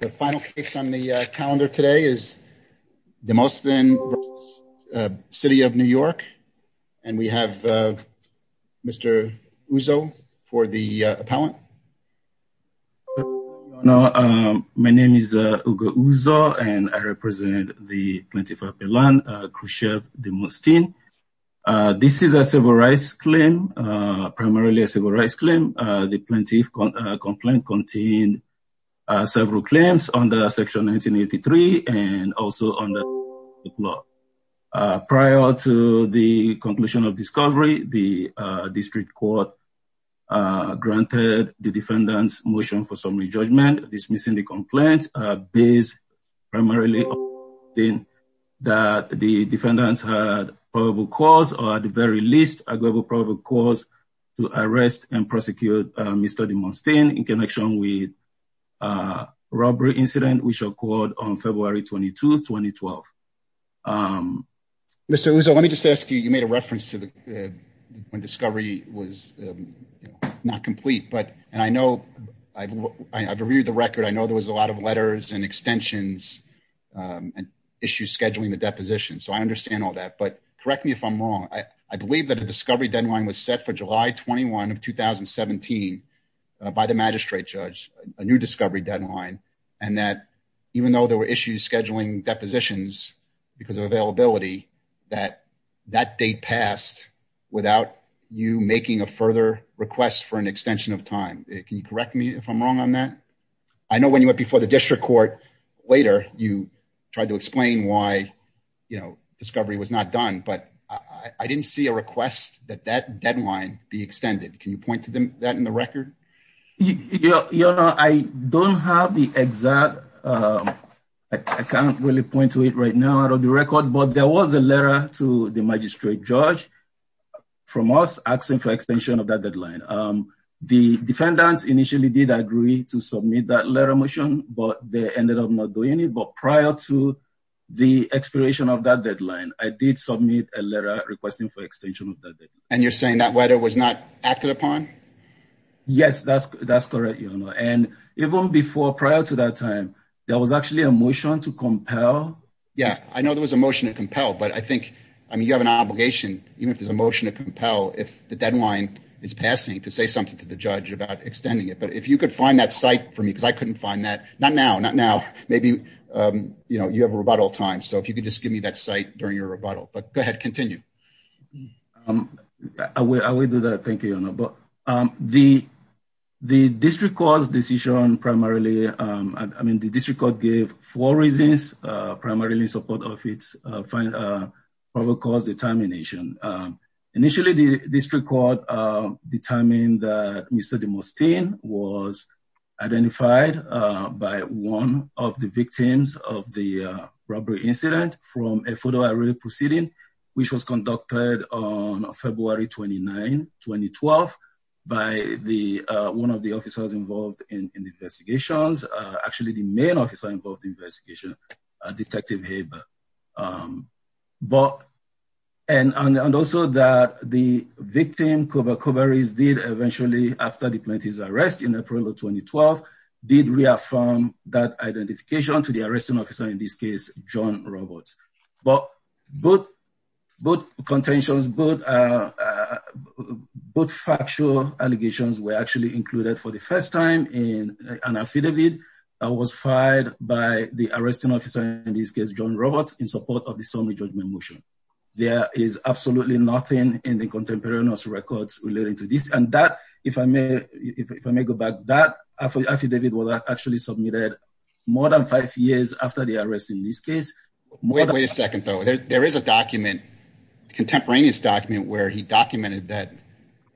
The final case on the calendar today is Demosthene v. City of New York and we have Mr. Uzo for the appellant. My name is Ugo Uzo and I represent the plaintiff appellant Khrushchev Demosthene. This is a civil rights claim, primarily a civil claims under section 1983 and also under the law. Prior to the conclusion of discovery, the district court granted the defendants motion for summary judgment dismissing the complaint based primarily that the defendants had probable cause or at the very least a global probable cause to arrest and prosecute Mr. Demosthene in connection with a robbery incident which occurred on February 22, 2012. Mr. Uzo, let me just ask you, you made a reference to the when discovery was not complete but and I know I've reviewed the record I know there was a lot of letters and extensions and issues scheduling the deposition so I understand all that but correct me if I'm wrong I believe that a discovery deadline was set for July 21 of 2017 by the magistrate judge a new discovery deadline and that even though there were issues scheduling depositions because of availability that that date passed without you making a further request for an extension of time. Can you correct me if I'm wrong on that? I know when you went before district court later you tried to explain why discovery was not done but I didn't see a request that that deadline be extended. Can you point to that in the record? I don't have the exact I can't really point to it right now out of the record but there was a letter to the magistrate judge from us asking for extension of that deadline. The defendants initially did agree to submit that letter motion but they ended up not doing it but prior to the expiration of that deadline I did submit a letter requesting for extension of that. And you're saying that weather was not acted upon? Yes that's that's correct and even before prior to that time there was actually a motion to compel. Yeah I know there was a motion to compel but I think I mean you have an obligation even if there's a motion to compel if the deadline is passing to something to the judge about extending it but if you could find that site for me because I couldn't find that not now not now maybe you know you have a rebuttal time so if you could just give me that site during your rebuttal but go ahead continue. I will do that thank you but the the district court's decision primarily I mean the district court gave four reasons primarily support of its final probable cause determination. Initially the district court determined that Mr. DeMustaine was identified by one of the victims of the robbery incident from a photo array proceeding which was conducted on February 29, 2012 by the one of the officers involved in the um but and and also that the victim Koba Kobares did eventually after the plaintiff's arrest in April of 2012 did reaffirm that identification to the arresting officer in this case John Roberts but both both contentions both uh both factual allegations were actually included for the first in an affidavit that was fired by the arresting officer in this case John Roberts in support of the summary judgment motion. There is absolutely nothing in the contemporaneous records relating to this and that if I may if I may go back that affidavit was actually submitted more than five years after the arrest in this case. Wait a second though there is a document contemporaneous document where he documented that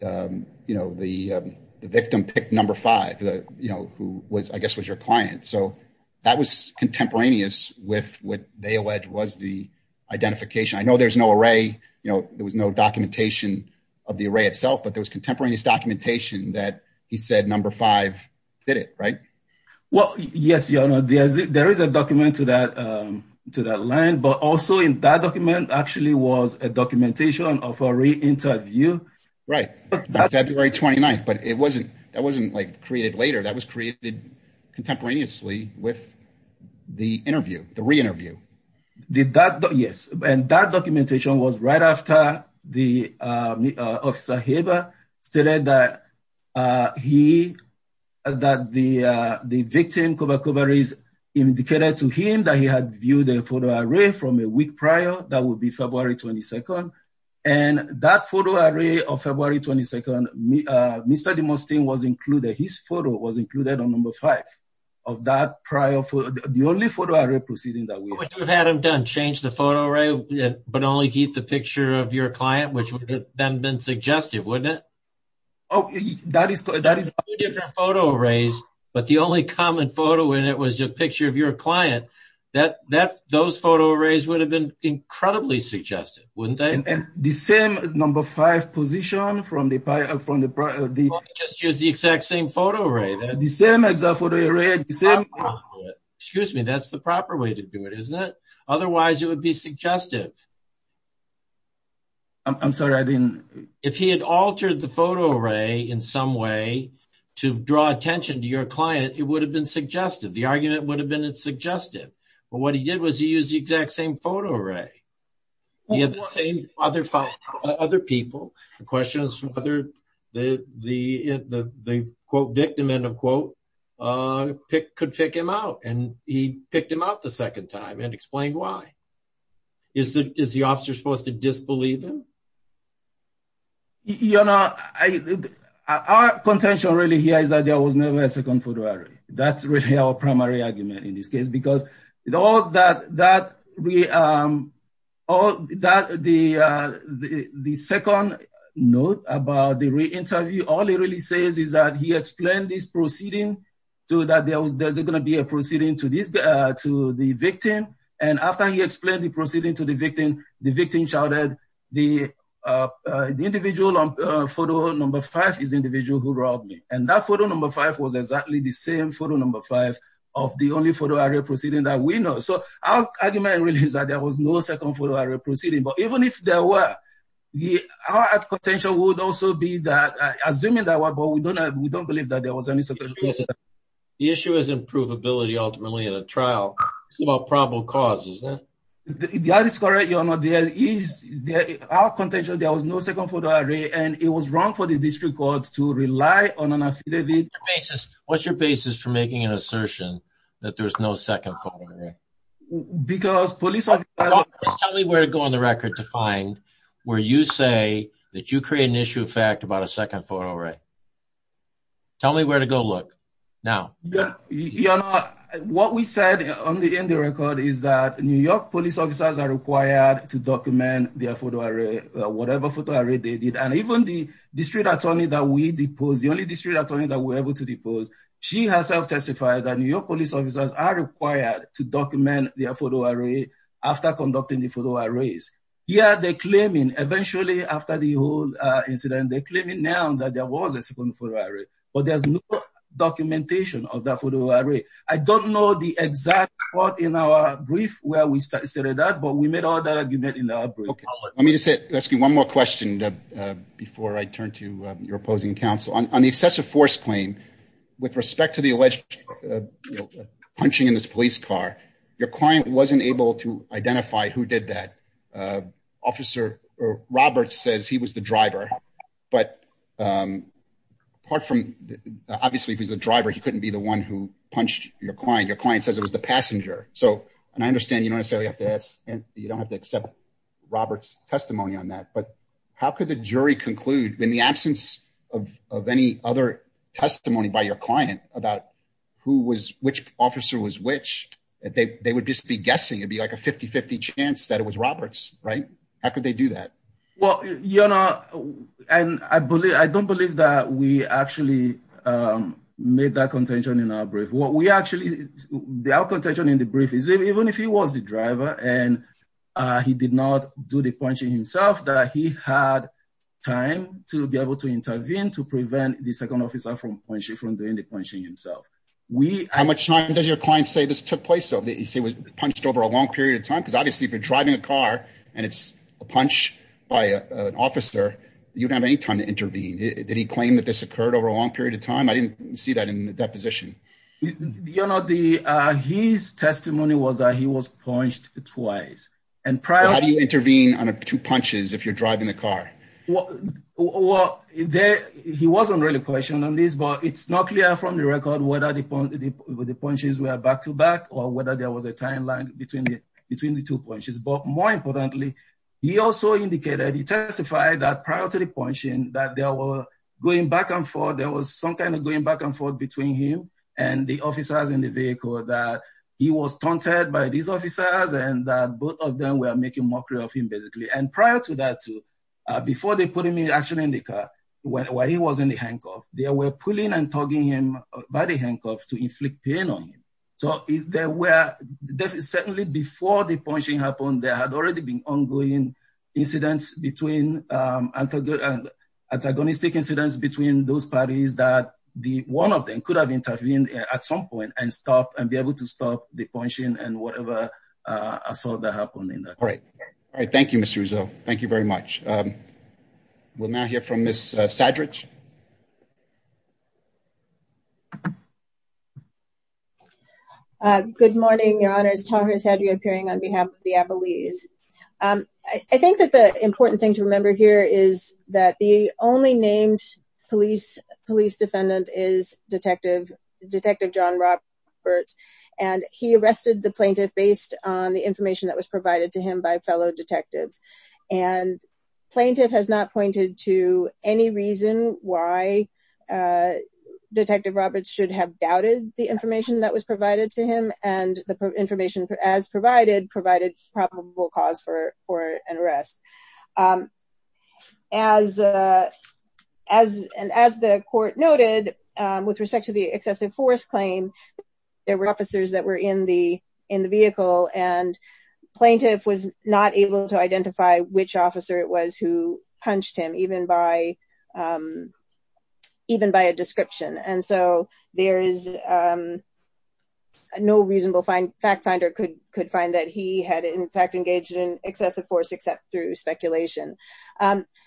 um you know the victim picked number five the you know who was I guess was your client so that was contemporaneous with what they alleged was the identification I know there's no array you know there was no documentation of the array itself but there was contemporaneous documentation that he said number five did it right? Well yes your honor there is there is a document to that um to that line but also in that document actually was a interview. Right February 29th but it wasn't that wasn't like created later that was created contemporaneously with the interview the re-interview. Did that yes and that documentation was right after the uh officer Haber stated that uh he that the uh the victim cover cover is indicated to him that he had viewed a photo array from a week prior that would be February 22nd and that photo array of February 22nd uh Mr. DeMustang was included his photo was included on number five of that prior for the only photo array proceeding that we've had him done change the photo array but only keep the picture of your client which would have then been suggestive wouldn't it? Oh that is that is two different photo arrays but the only common photo when it was a picture of your client that that those photo arrays would have been incredibly suggestive the same number five position from the pi from the just use the exact same photo array the same exact photo array excuse me that's the proper way to do it isn't it otherwise it would be suggestive I'm sorry I didn't if he had altered the photo array in some way to draw attention to your client it would have been suggestive the argument would have been it's suggestive but what he did was he used the exact same photo array he had the same other other people the question is whether the the the the quote victim end of quote uh pick could pick him out and he picked him out the second time and explained why is the is the officer supposed to disbelieve him? You know I our contention really here is that there was never a second photo array that's really our primary argument in this case because with all that that we um all that the uh the the second note about the re-interview all it really says is that he explained this proceeding so that there was there's going to be a proceeding to this uh to the victim and after he explained the proceeding to the victim the victim shouted the uh the individual on photo number five is and that photo number five was exactly the same photo number five of the only photo array proceeding that we know so our argument really is that there was no second photo array proceeding but even if there were the our contention would also be that assuming that what but we don't know we don't believe that there was any second the issue is improvability ultimately in a trial it's about probable cause isn't it? That is correct your honor there is there our contention there was no second photo array and it was wrong for the district courts to rely on an affidavit basis what's your basis for making an assertion that there's no second photo array because police tell me where to go on the record to find where you say that you create an issue of fact about a second photo array tell me where to go look now yeah you know what we said on the in the record is that new york police officers are required to document their photo array whatever photo array they did and even the district attorney that we depose the only district attorney that we're able to depose she herself testified that new york police officers are required to document their photo array after conducting the photo arrays here they're claiming eventually after the whole incident they're claiming now that there was a second photo array but there's no documentation of that photo array i don't know the exact part in our brief where we started that but we made all that argument in our brief okay let me just say ask you one more question uh before i turn to your opposing counsel on the excessive force claim with respect to the alleged punching in this police car your client wasn't able to identify who did that uh officer roberts he was the driver but um apart from obviously if he's the driver he couldn't be the one who punched your client your client says it was the passenger so and i understand you don't necessarily have to ask and you don't have to accept roberts testimony on that but how could the jury conclude in the absence of of any other testimony by your client about who was which officer was which they they would just be guessing it'd be like a 50 50 chance that it was roberts right how could they do that well you know and i believe i don't believe that we actually um made that contention in our brief what we actually the our contention in the brief is even if he was the driver and uh he did not do the punching himself that he had time to be able to intervene to prevent the second officer from when she from doing the punching himself we how much time does your client say this took place so they say was punched over a long period of time because obviously if you're driving a car and it's a punch by an officer you don't have any time to intervene did he claim that this occurred over a long period of time i didn't see that in the deposition you know the uh his testimony was that he was punched twice and how do you intervene on two punches if you're driving the car well well there he wasn't really questioned on this but it's not clear from the record whether the point the punches were back to back or whether there was a timeline between the between the two punches but more importantly he also indicated he testified that prior to the punching that they were going back and forth there was some kind of going back and forth between him and the officers in the vehicle that he was taunted by these officers and that both of them were making mockery of him basically and prior to that too before they put him in action in the car when he was in the handcuff they were pulling and by the handcuffs to inflict pain on him so there were definitely before the punching happened there had already been ongoing incidents between um and antagonistic incidents between those parties that the one of them could have intervened at some point and stopped and be able to stop the punching and whatever uh assault that happened in that all right all right thank you thank you very much um we'll now hear from miss saddridge uh good morning your honor's talk has had you appearing on behalf of the abilities um i think that the important thing to remember here is that the only named police police defendant is detective detective john roberts and he arrested the plaintiff based on the information that was provided to him by fellow detectives and plaintiff has not pointed to any reason why uh detective roberts should have doubted the information that was provided to him and the information as provided provided probable cause for for an arrest um as uh as and as the court noted um with respect to the excessive force claim there were officers that were in the in the vehicle and plaintiff was not able to identify which officer it was who punched him even by um even by a description and so there is um no reasonable fact finder could could find that he had in fact engaged in excessive force except through speculation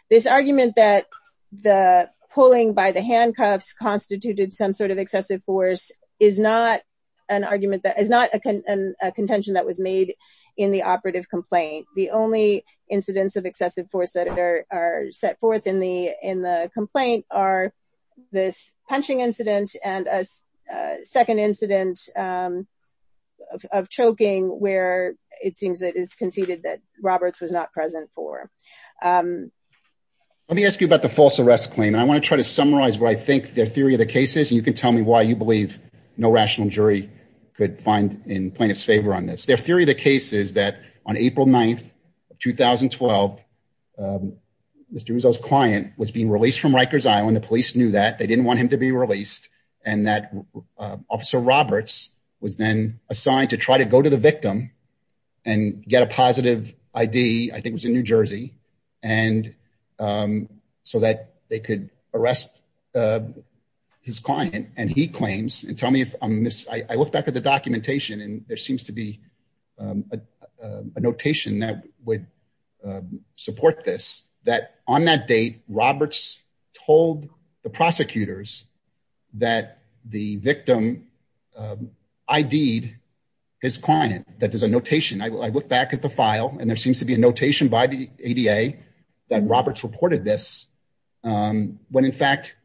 this argument that the pulling by the handcuffs constituted some sort of excessive force is not an argument that is not a contention that was made in the operative complaint the only incidents of excessive force that are are set forth in the in the complaint are this punching incident and a second incident um of choking where it seems that it's conceded that roberts was not present for um let me ask you about the false arrest claim i want to try to no rational jury could find in plaintiff's favor on this their theory of the case is that on april 9th of 2012 um mr rizzo's client was being released from rikers island the police knew that they didn't want him to be released and that officer roberts was then assigned to try to go to the victim and get a positive id i think it was in new jersey and um so that they could arrest uh his client and he claims and tell me if i'm miss i look back at the documentation and there seems to be a notation that would support this that on that date roberts told the prosecutors that the victim id'd his client that there's a notation i look back at the file and there seems to be a notation by the ada that roberts reported this um when in fact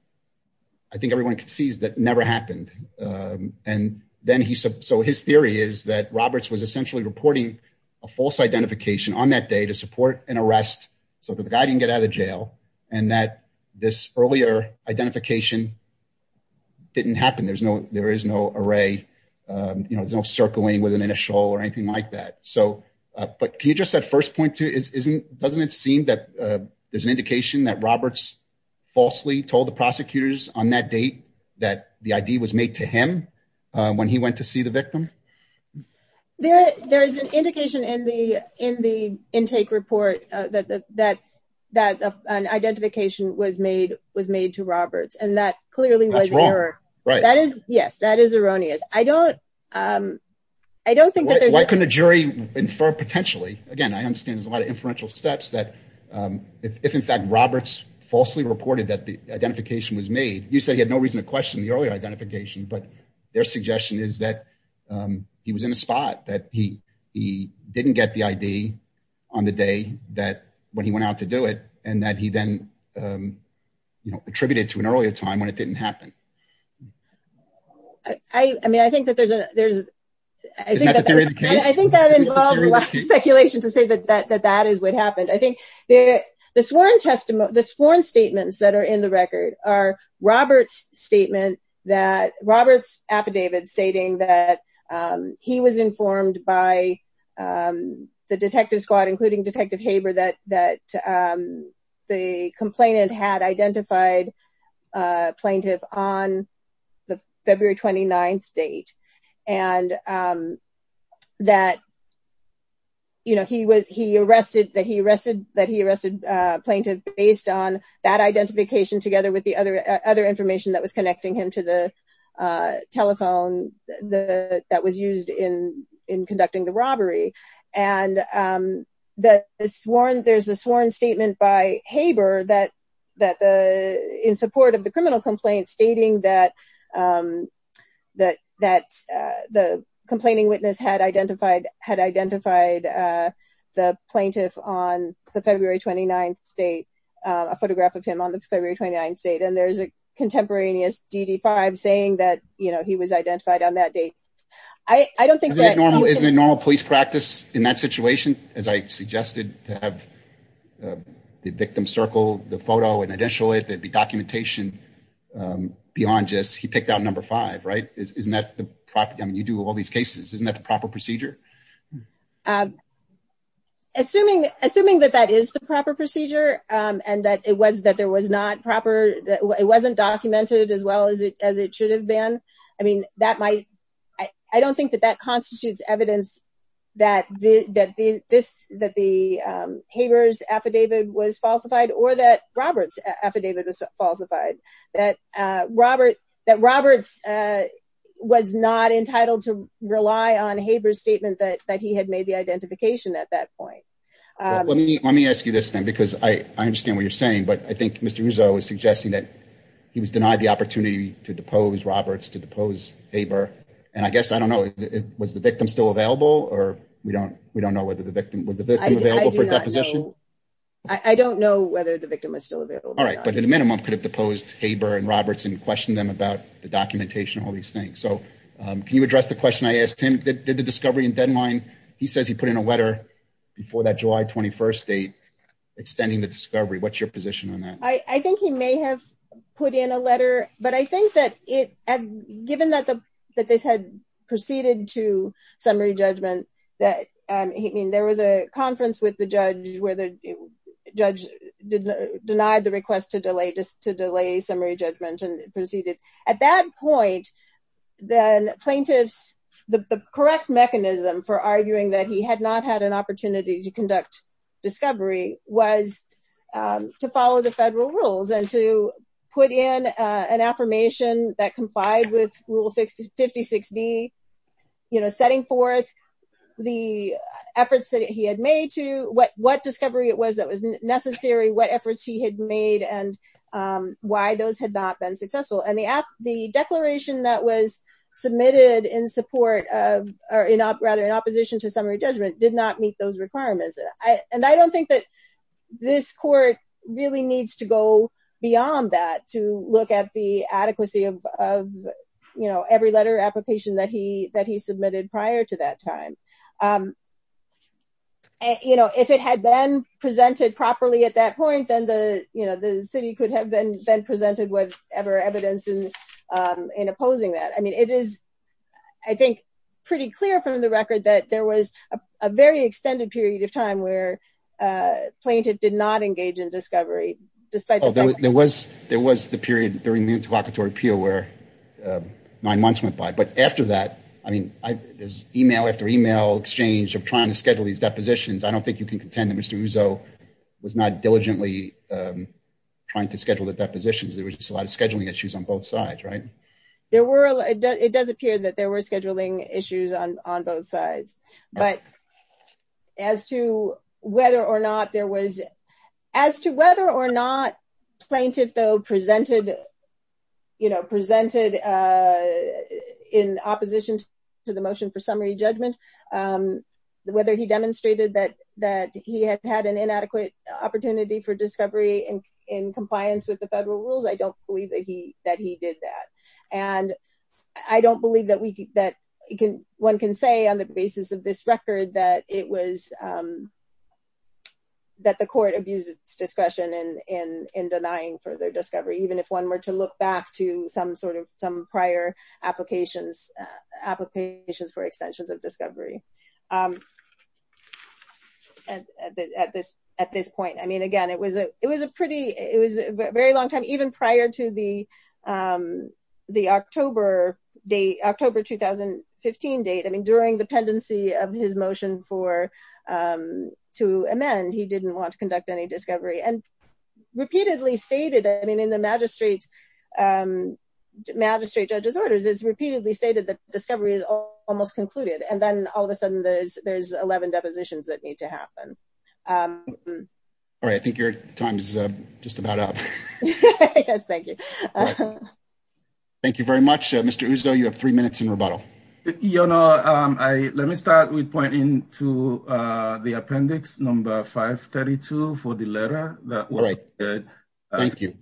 i think everyone sees that never happened um and then he said so his theory is that roberts was essentially reporting a false identification on that day to support an arrest so that the guy didn't get out of jail and that this earlier identification didn't happen there's no there is no array um you know there's no circling with an initial or anything like that so uh but can you just at first point to isn't doesn't it seem that uh there's an indication that roberts falsely told the prosecutors on that date that the id was made to him uh when he went to see the victim there there is an indication in the in the intake report uh that that that an identification was i don't um i don't think that there's why couldn't a jury infer potentially again i understand there's a lot of inferential steps that um if in fact roberts falsely reported that the identification was made you said he had no reason to question the earlier identification but their suggestion is that um he was in a spot that he he didn't get the id on the day that when he went out to do it and that he then um you know attributed to an earlier time when it didn't happen i i mean i think that there's a there's i think that i think that involves a lot of speculation to say that that that is what happened i think the the sworn testimony the sworn statements that are in the record are robert's statement that robert's affidavit stating that um he was informed by um the detective squad including detective haber that that um the complainant had identified uh plaintiff on the february 29th date and um that you know he was he arrested that he arrested that he arrested uh plaintiff based on that identification together with the other other information that was connecting him to the uh telephone the that was used in in conducting the in support of the criminal complaint stating that um that that uh the complaining witness had identified had identified uh the plaintiff on the february 29th date a photograph of him on the february 29th date and there's a contemporaneous dd5 saying that you know he was identified on that date i i don't think that is a normal police practice in that situation as i suggested to have the victim circle the photo and initial it there'd be documentation um beyond just he picked out number five right isn't that the property i mean you do all these cases isn't that the proper procedure um assuming assuming that that is the proper procedure um and that it was that there was not proper it wasn't documented as well as it as it should have been i mean that might i i don't think that that constitutes evidence that this that this that the um haber's affidavit was falsified or that robert's affidavit was falsified that uh robert that roberts uh was not entitled to rely on haber's statement that that he had made the identification at that point um let me let me ask you this thing because i i understand what you're saying but i think mr rousseau is suggesting that he was denied the opportunity to depose roberts to depose haber and i guess i don't know was the victim still available or we don't we don't know whether the victim was the victim i don't know whether the victim is still available all right but at a minimum could have deposed haber and roberts and questioned them about the documentation all these things so um can you address the question i asked him did the discovery in deadline he says he put in a letter before that july 21st date extending the discovery what's your position i i think he may have put in a letter but i think that it had given that the that this had proceeded to summary judgment that um he mean there was a conference with the judge where the judge did denied the request to delay just to delay summary judgment and proceeded at that point then plaintiffs the the correct mechanism for arguing that he had not had an opportunity to and to put in an affirmation that complied with rule 56d you know setting forth the efforts that he had made to what what discovery it was that was necessary what efforts he had made and why those had not been successful and the app the declaration that was submitted in support of or in up rather in opposition to summary judgment did not meet those requirements i and i don't think this court really needs to go beyond that to look at the adequacy of of you know every letter application that he that he submitted prior to that time um and you know if it had been presented properly at that point then the you know the city could have been been presented with ever evidence in um in opposing that i mean it is i think pretty clear from the record that there was a very extended period of time where uh plaintiff did not engage in discovery despite there was there was the period during the interlocutory appeal where uh nine months went by but after that i mean i there's email after email exchange of trying to schedule these depositions i don't think you can contend that mr uso was not diligently um trying to schedule the depositions there was just a lot of scheduling issues on both sides right there were it does it does appear that were scheduling issues on on both sides but as to whether or not there was as to whether or not plaintiff though presented you know presented uh in opposition to the motion for summary judgment um whether he demonstrated that that he had had an inadequate opportunity for discovery and in compliance with the federal rules i don't believe that he that he did that and i don't believe that we that you can one can say on the basis of this record that it was um that the court abused its discretion in in in denying further discovery even if one were to look back to some sort of some prior applications applications for extensions of discovery um at this at this point i mean again it was a it was a pretty it was a very long time even prior to the um the october date october 2015 date i mean during the pendency of his motion for um to amend he didn't want to conduct any discovery and repeatedly stated i mean in the magistrate's um magistrate judge's orders it's repeatedly stated that discovery is almost concluded and then all of a sudden there's there's 11 depositions that need to happen um all right i think your time is uh just about up yes thank you thank you very much uh mr uzdo you have three minutes in rebuttal you know um i let me start with pointing to uh the appendix number 532 for the letter that was good thank you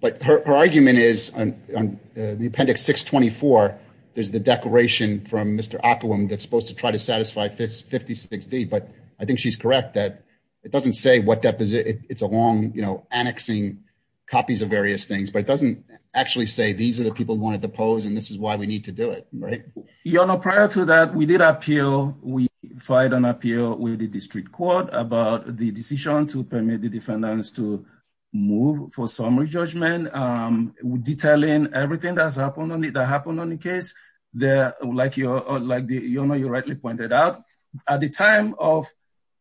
but her argument is on the appendix 624 there's the declaration from mr aquam that's supposed to to satisfy 56d but i think she's correct that it doesn't say what deposit it's a long you know annexing copies of various things but it doesn't actually say these are the people who wanted to pose and this is why we need to do it right your honor prior to that we did appeal we filed an appeal with the district court about the decision to permit the defendants to move for summary judgment um detailing everything that's happened on it that happened on the case there like your like the you know you rightly pointed out at the time of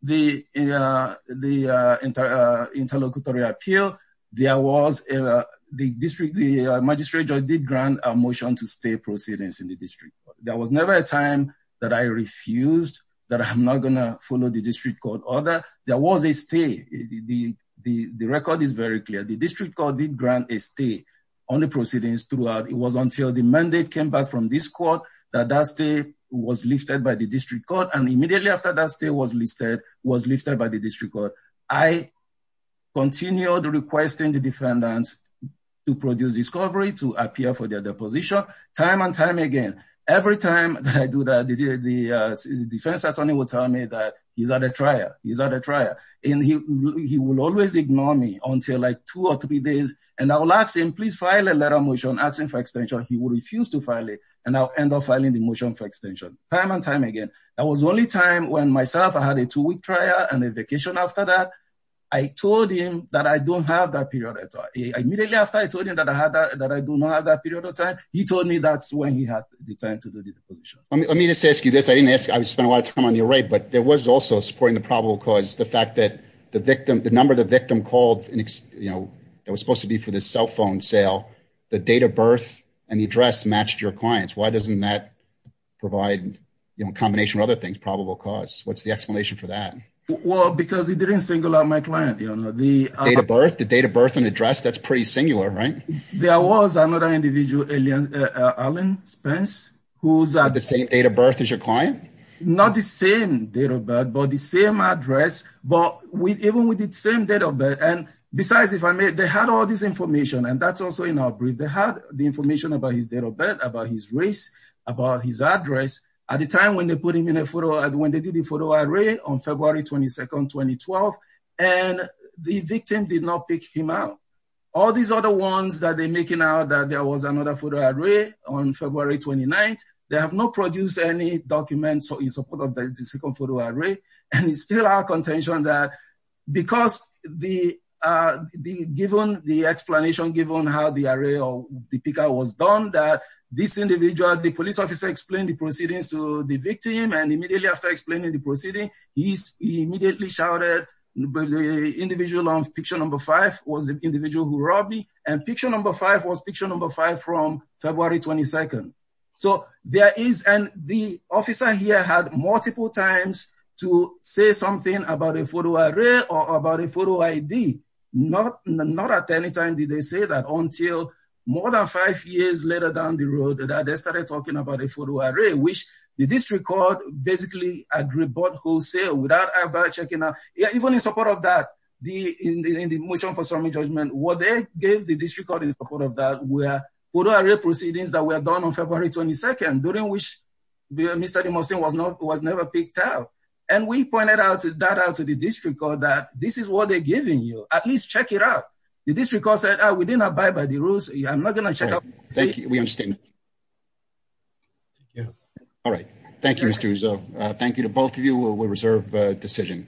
the uh the uh interlocutory appeal there was a the district the magistrate judge did grant a motion to stay proceedings in the district there was never a time that i refused that i'm not gonna follow the district court order there was a stay the the the record is very clear the district court did grant a stay on the proceedings it was until the mandate came back from this court that that state was lifted by the district court and immediately after that state was listed was lifted by the district court i continued requesting the defendants to produce discovery to appear for their deposition time and time again every time that i do that the defense attorney will tell me that he's at a trial he's at a trial and he he will always ignore me until like two or three days and i'll ask him file a letter motion asking for extension he will refuse to file it and i'll end up filing the motion for extension time and time again that was the only time when myself i had a two-week trial and a vacation after that i told him that i don't have that period at all immediately after i told him that i had that i do not have that period of time he told me that's when he had the time to do the deposition let me just ask you this i didn't ask i spent a lot of time on your right but there was also supporting the probable cause the fact that the victim the to be for the cell phone sale the date of birth and the address matched your clients why doesn't that provide you know a combination of other things probable cause what's the explanation for that well because it didn't single out my client you know the date of birth the date of birth and address that's pretty singular right there was another individual alien alan spence who's at the same date of birth as your client not the same date of birth but the same address but we even with the same date of birth and besides if i may they had all this information and that's also in our brief they had the information about his date of birth about his race about his address at the time when they put him in a photo and when they did the photo array on february 22nd 2012 and the victim did not pick him out all these other ones that they're making out that there was another photo array on february 29th they have not produced any documents so in our contention that because the uh the given the explanation given how the array or the picker was done that this individual the police officer explained the proceedings to the victim and immediately after explaining the proceeding he immediately shouted the individual on picture number five was the individual who robbed me and picture number five was picture number five from a photo array or about a photo id not not at any time did they say that until more than five years later down the road that they started talking about a photo array which the district court basically agreed but wholesale without ever checking out even in support of that the in the motion for summary judgment what they gave the district court in support of that were photo array proceedings that were done on february 22nd during which mr demonstrating was not was that out to the district court that this is what they're giving you at least check it out the district court said oh we did not abide by the rules i'm not gonna check out thank you we understand yeah all right thank you mr rizzo uh thank you to both of you we'll reserve a decision